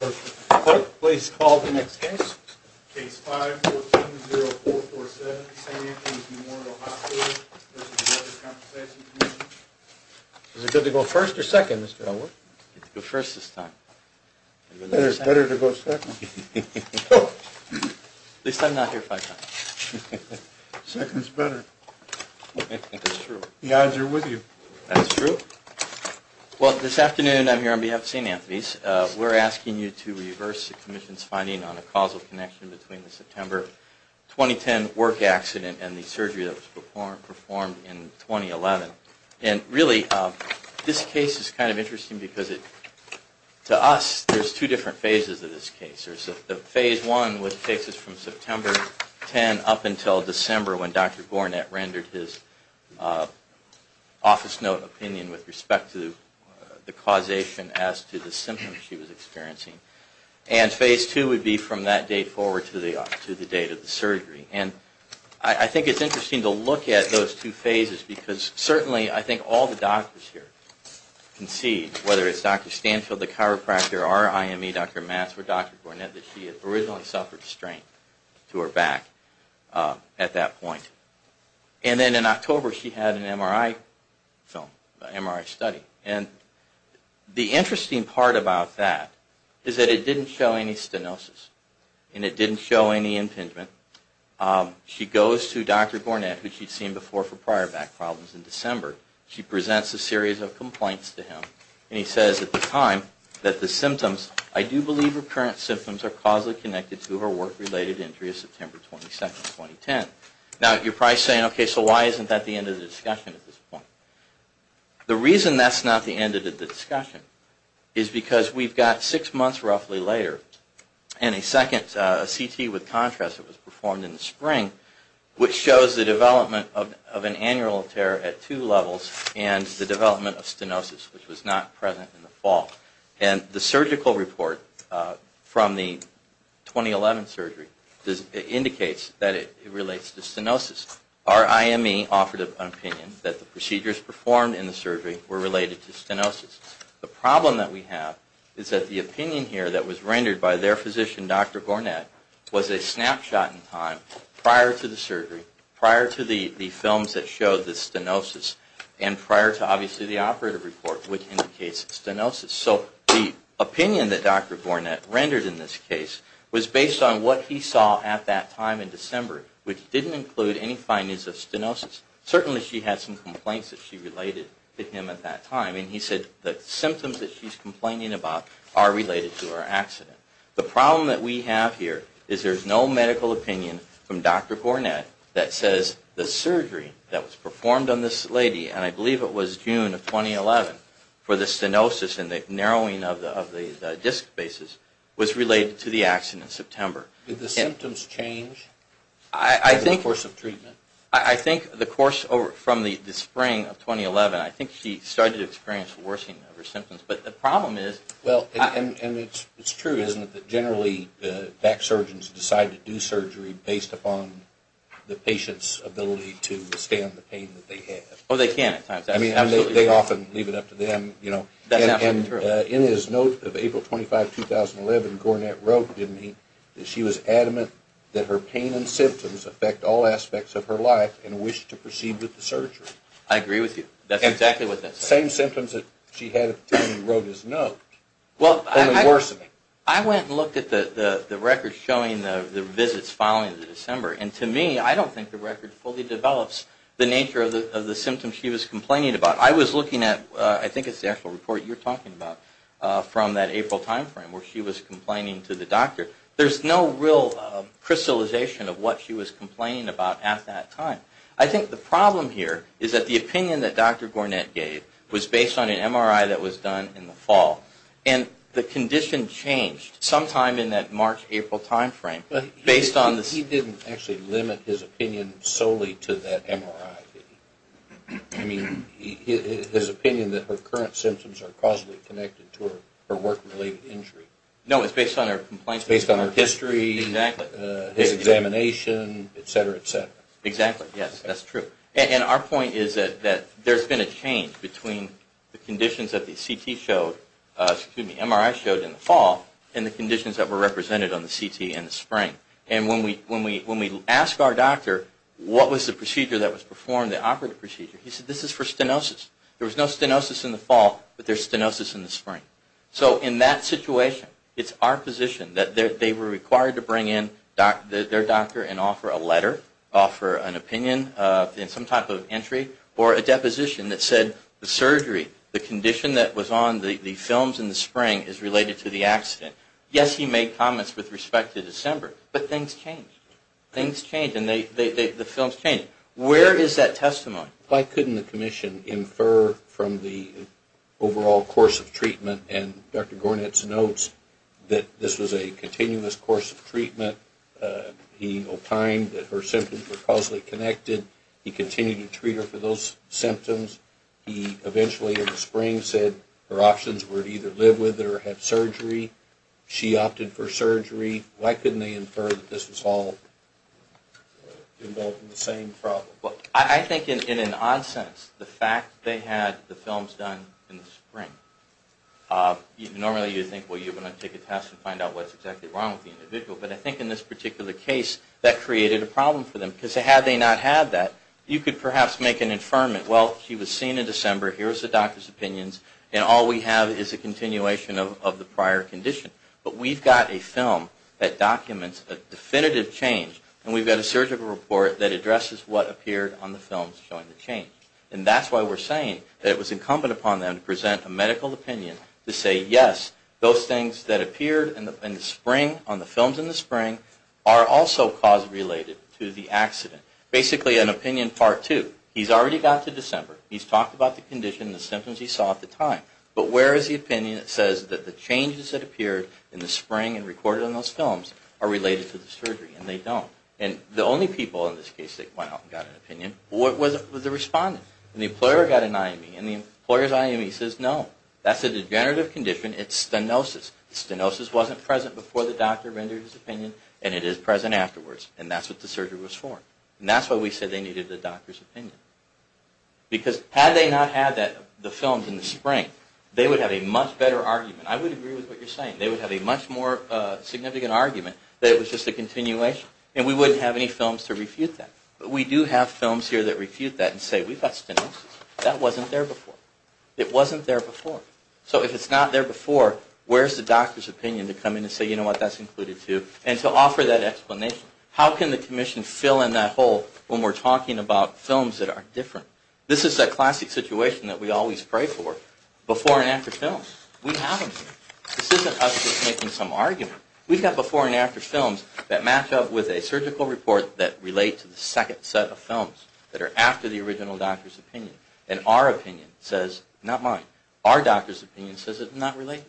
Is it good to go first or second, Mr. Elwood? It's good to go first this time. It's better to go second. At least I'm not here five times. Second's better. The odds are with you. That's true. Well, this afternoon I'm here on behalf of St. Anthony's. We're asking you to reverse the Commission's finding on a causal connection between the September 2010 work accident and the surgery that was performed in 2011. And really, this case is kind of interesting because to us, there's two different phases of this case. There's the Phase 1, which takes us from September 10 up until December when Dr. Gornett rendered his office note opinion with respect to the causation as to the symptoms she was experiencing. And Phase 2 would be from that date forward to the date of the surgery. And I think it's interesting to look at those two phases because certainly I think all the doctors here can see, whether it's Dr. Stanfield, the chiropractor, our IME, Dr. Matz, or Dr. Gornett, that she had originally suffered strain to her back at that point. And then in October she had an MRI film, an MRI study. And the interesting part about that is that it didn't show any stenosis. And it didn't show any impingement. She goes to Dr. Gornett, who she'd seen before for prior back problems in December. She presents a series of complaints to him. And he says at the time that the symptoms, I do believe her current symptoms are causally connected to her work-related injury of September 22, 2010. Now, you're probably saying, okay, so why isn't that the end of the discussion at this point? The reason that's not the end of the discussion is because we've got six months roughly later and a second CT with contrast that was performed in the spring, which shows the development of an annual tear at two levels and the development of stenosis, which was not present in the fall. And the surgical report from the 2011 surgery indicates that it relates to stenosis. Our IME offered an opinion that the procedures performed in the surgery were related to stenosis. The problem that we have is that the opinion here that was rendered by their physician, Dr. Gornett, was a snapshot in time prior to the surgery, prior to the films that showed the stenosis, and prior to obviously the operative report, which indicates stenosis. So the opinion that Dr. Gornett rendered in this case was based on what he saw at that time in December, which didn't include any findings of stenosis. Certainly she had some complaints that she related to him at that time, and he said the symptoms that she's complaining about are related to her accident. The problem that we have here is there's no medical opinion from Dr. Gornett that says the surgery that was performed on this lady, and I believe it was June of 2011 for the stenosis and the narrowing of the disc basis, was related to the accident in September. Did the symptoms change in the course of treatment? I think the course from the spring of 2011, I think she started to experience worsening of her symptoms. Well, and it's true, isn't it, that generally back surgeons decide to do surgery based upon the patient's ability to withstand the pain that they have. Oh, they can at times. I mean, they often leave it up to them, you know. That's absolutely true. And in his note of April 25, 2011, Gornett wrote to me that she was adamant that her pain and symptoms affect all aspects of her life and wished to proceed with the surgery. The same symptoms that she had when he wrote his note, only worsening. Well, I went and looked at the records showing the visits following the December, and to me, I don't think the record fully develops the nature of the symptoms she was complaining about. I was looking at, I think it's the actual report you're talking about from that April timeframe where she was complaining to the doctor. There's no real crystallization of what she was complaining about at that time. I think the problem here is that the opinion that Dr. Gornett gave was based on an MRI that was done in the fall, and the condition changed sometime in that March-April timeframe. But he didn't actually limit his opinion solely to that MRI. I mean, his opinion that her current symptoms are causally connected to her work-related injury. No, it's based on her complaints. It's based on her history. Exactly. His examination, et cetera, et cetera. Exactly. Yes, that's true. And our point is that there's been a change between the conditions that the CT showed, excuse me, MRI showed in the fall, and the conditions that were represented on the CT in the spring. And when we asked our doctor what was the procedure that was performed, the operative procedure, he said this is for stenosis. There was no stenosis in the fall, but there's stenosis in the spring. So in that situation, it's our position that they were required to bring in their doctor and offer a letter, offer an opinion in some type of entry, or a deposition that said the surgery, the condition that was on the films in the spring is related to the accident. Yes, he made comments with respect to December, but things changed. Things changed, and the films changed. Where is that testimony? Why couldn't the commission infer from the overall course of treatment, and Dr. Gornitz notes that this was a continuous course of treatment. He opined that her symptoms were causally connected. He continued to treat her for those symptoms. He eventually, in the spring, said her options were to either live with it or have surgery. She opted for surgery. Why couldn't they infer that this was all involved in the same problem? Well, I think in an odd sense, the fact they had the films done in the spring, normally you'd think, well, you're going to take a test and find out what's exactly wrong with the individual. But I think in this particular case, that created a problem for them. Because had they not had that, you could perhaps make an inferment. Well, she was seen in December. Here's the doctor's opinions, and all we have is a continuation of the prior condition. But we've got a film that documents a definitive change, and we've got a surgical report that addresses what appeared on the films showing the change. And that's why we're saying that it was incumbent upon them to present a medical opinion to say, yes, those things that appeared in the spring, on the films in the spring, are also cause-related to the accident. Basically, an opinion part two. He's already got to December. He's talked about the condition and the symptoms he saw at the time. But where is the opinion that says that the changes that appeared in the spring and recorded on those films are related to the surgery? And they don't. And the only people in this case that went out and got an opinion was the respondent. And the employer got an IME. And the employer's IME says, no, that's a degenerative condition. It's stenosis. Stenosis wasn't present before the doctor rendered his opinion, and it is present afterwards. And that's what the surgery was for. And that's why we said they needed the doctor's opinion. Because had they not had the films in the spring, they would have a much better argument. I would agree with what you're saying. They would have a much more significant argument that it was just a continuation. And we wouldn't have any films to refute that. But we do have films here that refute that and say, we've got stenosis. That wasn't there before. It wasn't there before. So if it's not there before, where's the doctor's opinion to come in and say, you know what, that's included too, and to offer that explanation? How can the commission fill in that hole when we're talking about films that are different? This is that classic situation that we always pray for, before and after films. We have them here. This isn't us just making some argument. We've got before and after films that match up with a surgical report that relate to the second set of films that are after the original doctor's opinion. And our opinion says, not mine, our doctor's opinion says it's not related.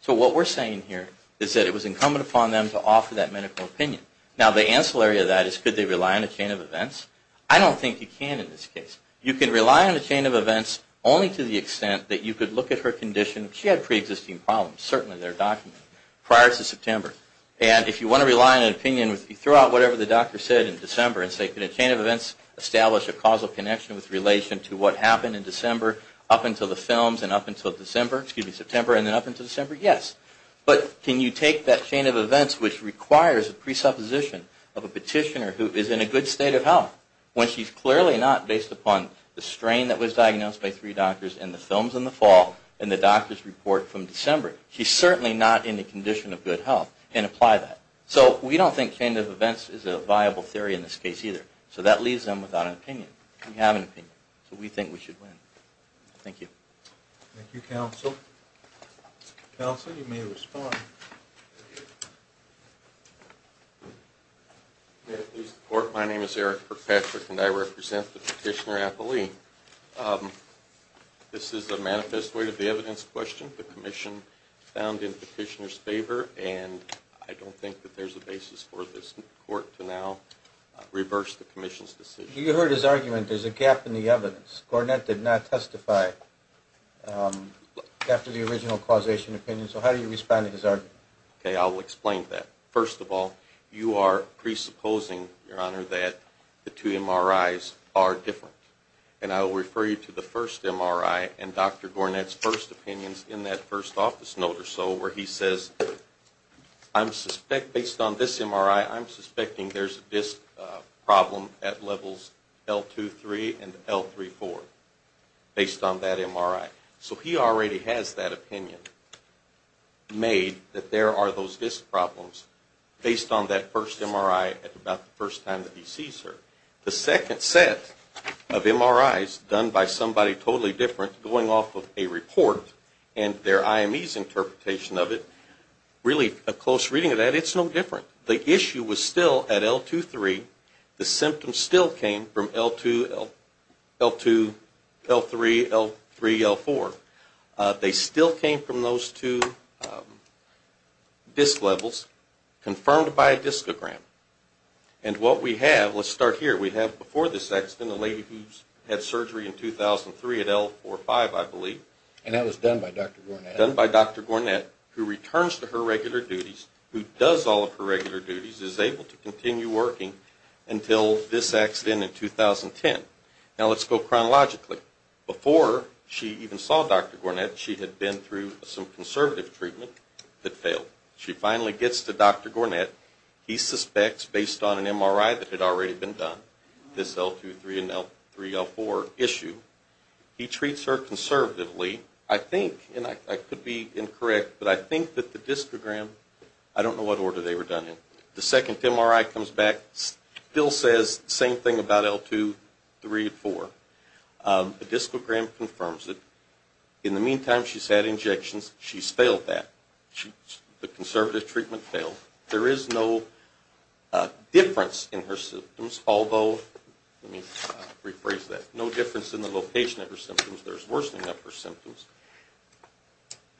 So what we're saying here is that it was incumbent upon them to offer that medical opinion. Now, the ancillary of that is, could they rely on a chain of events? I don't think you can in this case. You can rely on a chain of events only to the extent that you could look at her condition. She had preexisting problems, certainly, that are documented prior to September. And if you want to rely on an opinion, you throw out whatever the doctor said in December and say, could a chain of events establish a causal connection with relation to what happened in December up until the films and up until December, excuse me, September and then up until December? Yes. But can you take that chain of events which requires a presupposition of a petitioner who is in a good state of health when she's clearly not based upon the strain that was diagnosed by three doctors in the films in the fall and the doctor's report from December? She's certainly not in a condition of good health and apply that. So we don't think chain of events is a viable theory in this case either. So that leaves them without an opinion. We have an opinion. So we think we should win. Thank you. Thank you, counsel. Counsel, you may respond. My name is Eric Kirkpatrick, and I represent the petitioner appellee. This is a manifest way to the evidence question. The commission found the petitioner's favor, and I don't think that there's a basis for this court to now reverse the commission's decision. You heard his argument. There's a gap in the evidence. Gornett did not testify after the original causation opinion, so how do you respond to his argument? Okay, I'll explain that. First of all, you are presupposing, Your Honor, that the two MRIs are different, and I will refer you to the first MRI and Dr. Gornett's first opinions in that first office note or so where he says, based on this MRI, I'm suspecting there's a disc problem at levels L2-3 and L3-4 based on that MRI. So he already has that opinion made that there are those disc problems based on that first MRI about the first time that he sees her. The second set of MRIs done by somebody totally different going off of a report and their IME's interpretation of it, really a close reading of that, it's no different. The issue was still at L2-3. The symptoms still came from L2, L3, L3, L4. They still came from those two disc levels confirmed by a discogram. And what we have, let's start here, we have before this accident a lady who had surgery in 2003 at L4-5, I believe. And that was done by Dr. Gornett. Done by Dr. Gornett, who returns to her regular duties, who does all of her regular duties, is able to continue working until this accident in 2010. Now let's go chronologically. Before she even saw Dr. Gornett, she had been through some conservative treatment that failed. She finally gets to Dr. Gornett. He suspects, based on an MRI that had already been done, this L2-3 and L3-L4 issue, he treats her conservatively. I think, and I could be incorrect, but I think that the discogram, I don't know what order they were done in. The second MRI comes back, still says the same thing about L2-3-4. The discogram confirms it. In the meantime, she's had injections. She's failed that. The conservative treatment failed. There is no difference in her symptoms, although, let me rephrase that, no difference in the location of her symptoms. There's worsening of her symptoms.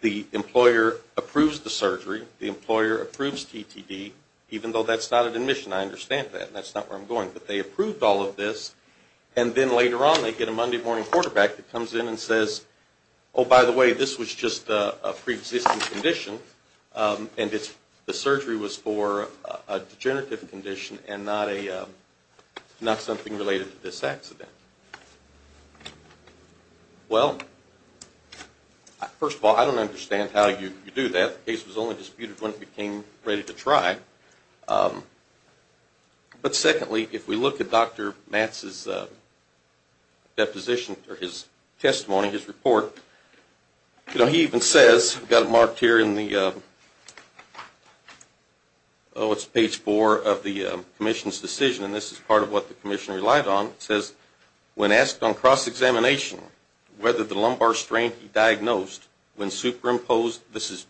The employer approves the surgery. The employer approves TTD, even though that's not an admission. I understand that. That's not where I'm going. But they approved all of this. And then later on, they get a Monday morning quarterback that comes in and says, oh, by the way, this was just a preexisting condition, and the surgery was for a degenerative condition and not something related to this accident. Well, first of all, I don't understand how you do that. The case was only disputed when it became ready to try. But secondly, if we look at Dr. Matz's deposition or his testimony, his report, you know, he even says, got it marked here in the, oh, it's page four of the commission's decision, and this is part of what the commission relied on. It says, when asked on cross-examination whether the lumbar strain he diagnosed when superimposed, this is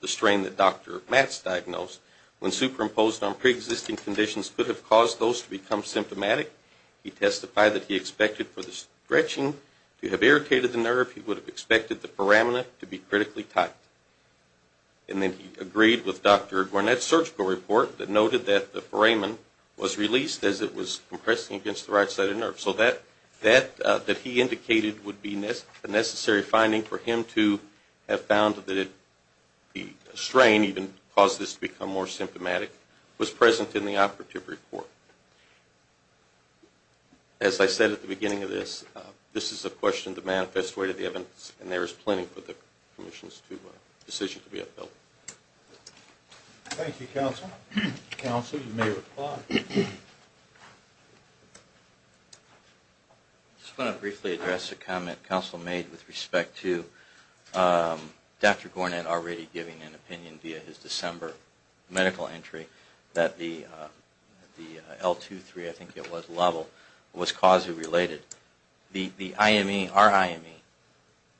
the strain that Dr. Matz diagnosed, when superimposed on preexisting conditions could have caused those to become symptomatic, he testified that he expected for the stretching to have irritated the nerve. He would have expected the foramina to be critically tight. And then he agreed with Dr. Gornett's surgical report that noted that the foramen was released as it was compressing against the right side of the nerve. So that, that he indicated would be a necessary finding for him to have found that the strain even caused this to become more symptomatic was present in the operative report. As I said at the beginning of this, this is a question of the manifest way to the evidence, and there is plenty for the commission's decision to be upheld. Thank you, counsel. Counsel, you may reply. I just want to briefly address a comment counsel made with respect to Dr. Gornett already giving an opinion via his December medical entry that the L2-3, I think it was, level was causally related. The IME, our IME,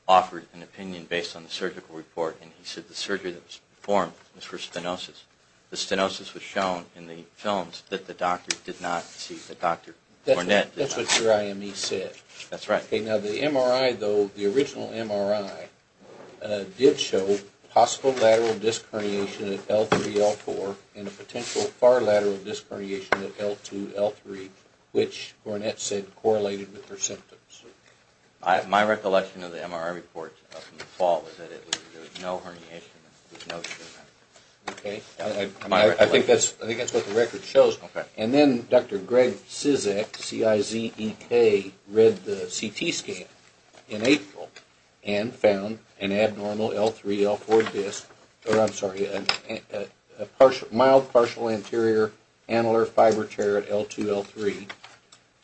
offered an opinion based on the surgical report, and he said the surgery that was performed was for stenosis. The stenosis was shown in the films that the doctor did not see, that Dr. Gornett did not see. That's what your IME said. That's right. Okay, now the MRI, though, the original MRI did show possible lateral disc herniation at L3-L4 and a potential far lateral disc herniation at L2-L3, which Gornett said correlated with her symptoms. My recollection of the MRI report from the fall was that there was no herniation. Okay. I think that's what the record shows. Okay. And then Dr. Greg Cizek, C-I-Z-E-K, read the CT scan in April and found an abnormal L3-L4 disc, or I'm sorry, a mild partial anterior annular fiber tear at L2-L3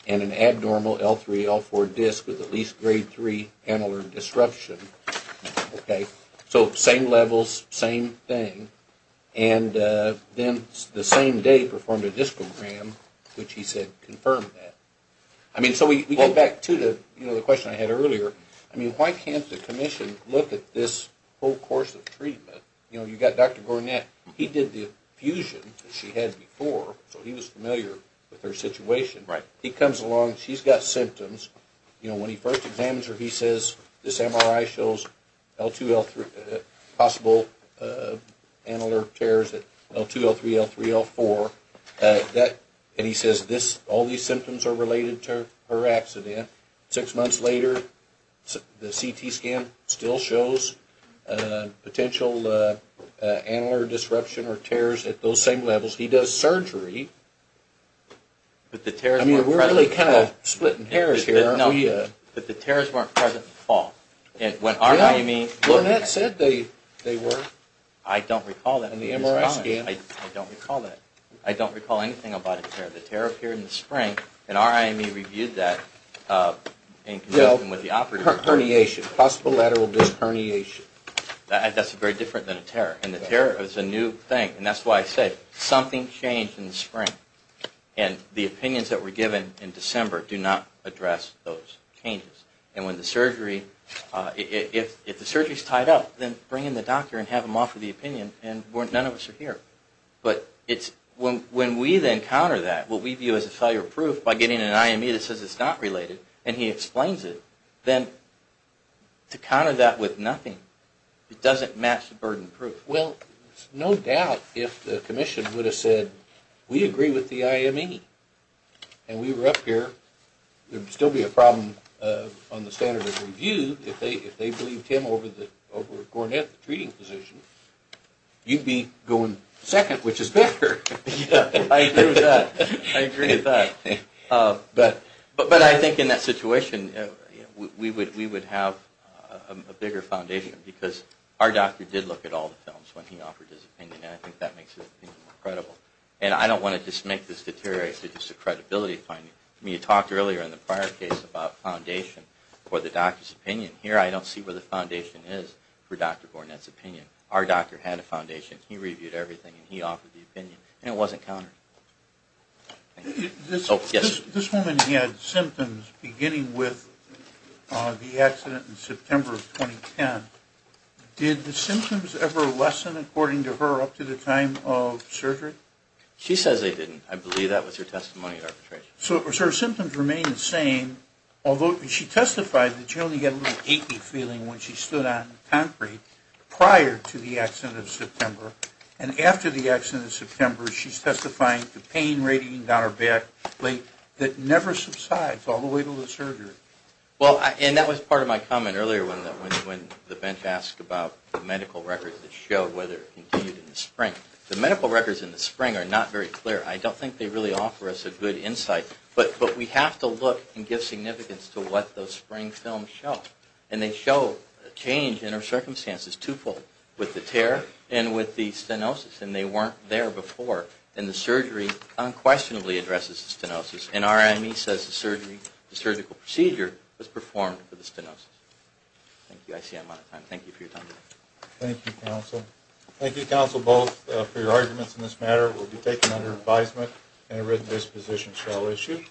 and an abnormal L3-L4 disc with at least grade 3 annular disruption. Okay. So same levels, same thing. And then the same day performed a discogram, which he said confirmed that. I mean, so we go back to the question I had earlier. I mean, why can't the commission look at this whole course of treatment? You know, you've got Dr. Gornett. He did the fusion that she had before, so he was familiar with her situation. Right. He comes along. She's got symptoms. You know, when he first examines her, he says this MRI shows L2-L3 possible annular tears at L2-L3, L3-L4. And he says all these symptoms are related to her accident. Six months later, the CT scan still shows potential annular disruption or tears at those same levels. He does surgery. But the tears weren't present. I mean, we're really kind of splitting hairs here. No, but the tears weren't present in the fall. When R.I.M.E. Gornett said they were. I don't recall that. In the MRI scan. I don't recall that. I don't recall anything about a tear. The tear appeared in the spring, and R.I.M.E. reviewed that in conjunction with the operating room. Well, herniation. Possible lateral disc herniation. That's very different than a tear. And the tear is a new thing, and that's why I say something changed in the spring. And the opinions that were given in December do not address those changes. And when the surgery, if the surgery's tied up, then bring in the doctor and have him offer the opinion, and none of us are here. But when we then counter that, what we view as a failure of proof, by getting an I.M.E. that says it's not related, and he explains it, then to counter that with nothing, it doesn't match the burden of proof. Well, it's no doubt if the commission would have said, we agree with the I.M.E., and we were up here, there would still be a problem on the standard of review if they believed him over Gornett, the treating physician. You'd be going second, which is better. I agree with that. I agree with that. But I think in that situation, we would have a bigger foundation, because our doctor did look at all the films when he offered his opinion, and I think that makes his opinion more credible. And I don't want to just make this deteriorate to just a credibility finding. I mean, you talked earlier in the prior case about foundation for the doctor's opinion. Here, I don't see where the foundation is for Dr. Gornett's opinion. Our doctor had a foundation. He reviewed everything, and he offered the opinion, and it wasn't countered. This woman had symptoms beginning with the accident in September of 2010. Did the symptoms ever lessen, according to her, up to the time of surgery? She says they didn't. I believe that was her testimony at arbitration. So her symptoms remain the same, although she testified that she only got a little achy feeling when she stood on concrete prior to the accident in September, and after the accident in September, she's testifying to pain radiating down her back that never subsides all the way to the surgery. Well, and that was part of my comment earlier when the bench asked about the medical records that show whether it continued in the spring. The medical records in the spring are not very clear. I don't think they really offer us a good insight, but we have to look and give significance to what those spring films show, and they show a change in her circumstances twofold, with the tear and with the stenosis, and they weren't there before, and the surgery unquestionably addresses the stenosis, and RME says the surgical procedure was performed for the stenosis. Thank you. I see I'm out of time. Thank you for your time. Thank you, counsel. Thank you, counsel, both, for your arguments in this matter. It will be taken under advisement, and a written disposition shall issue.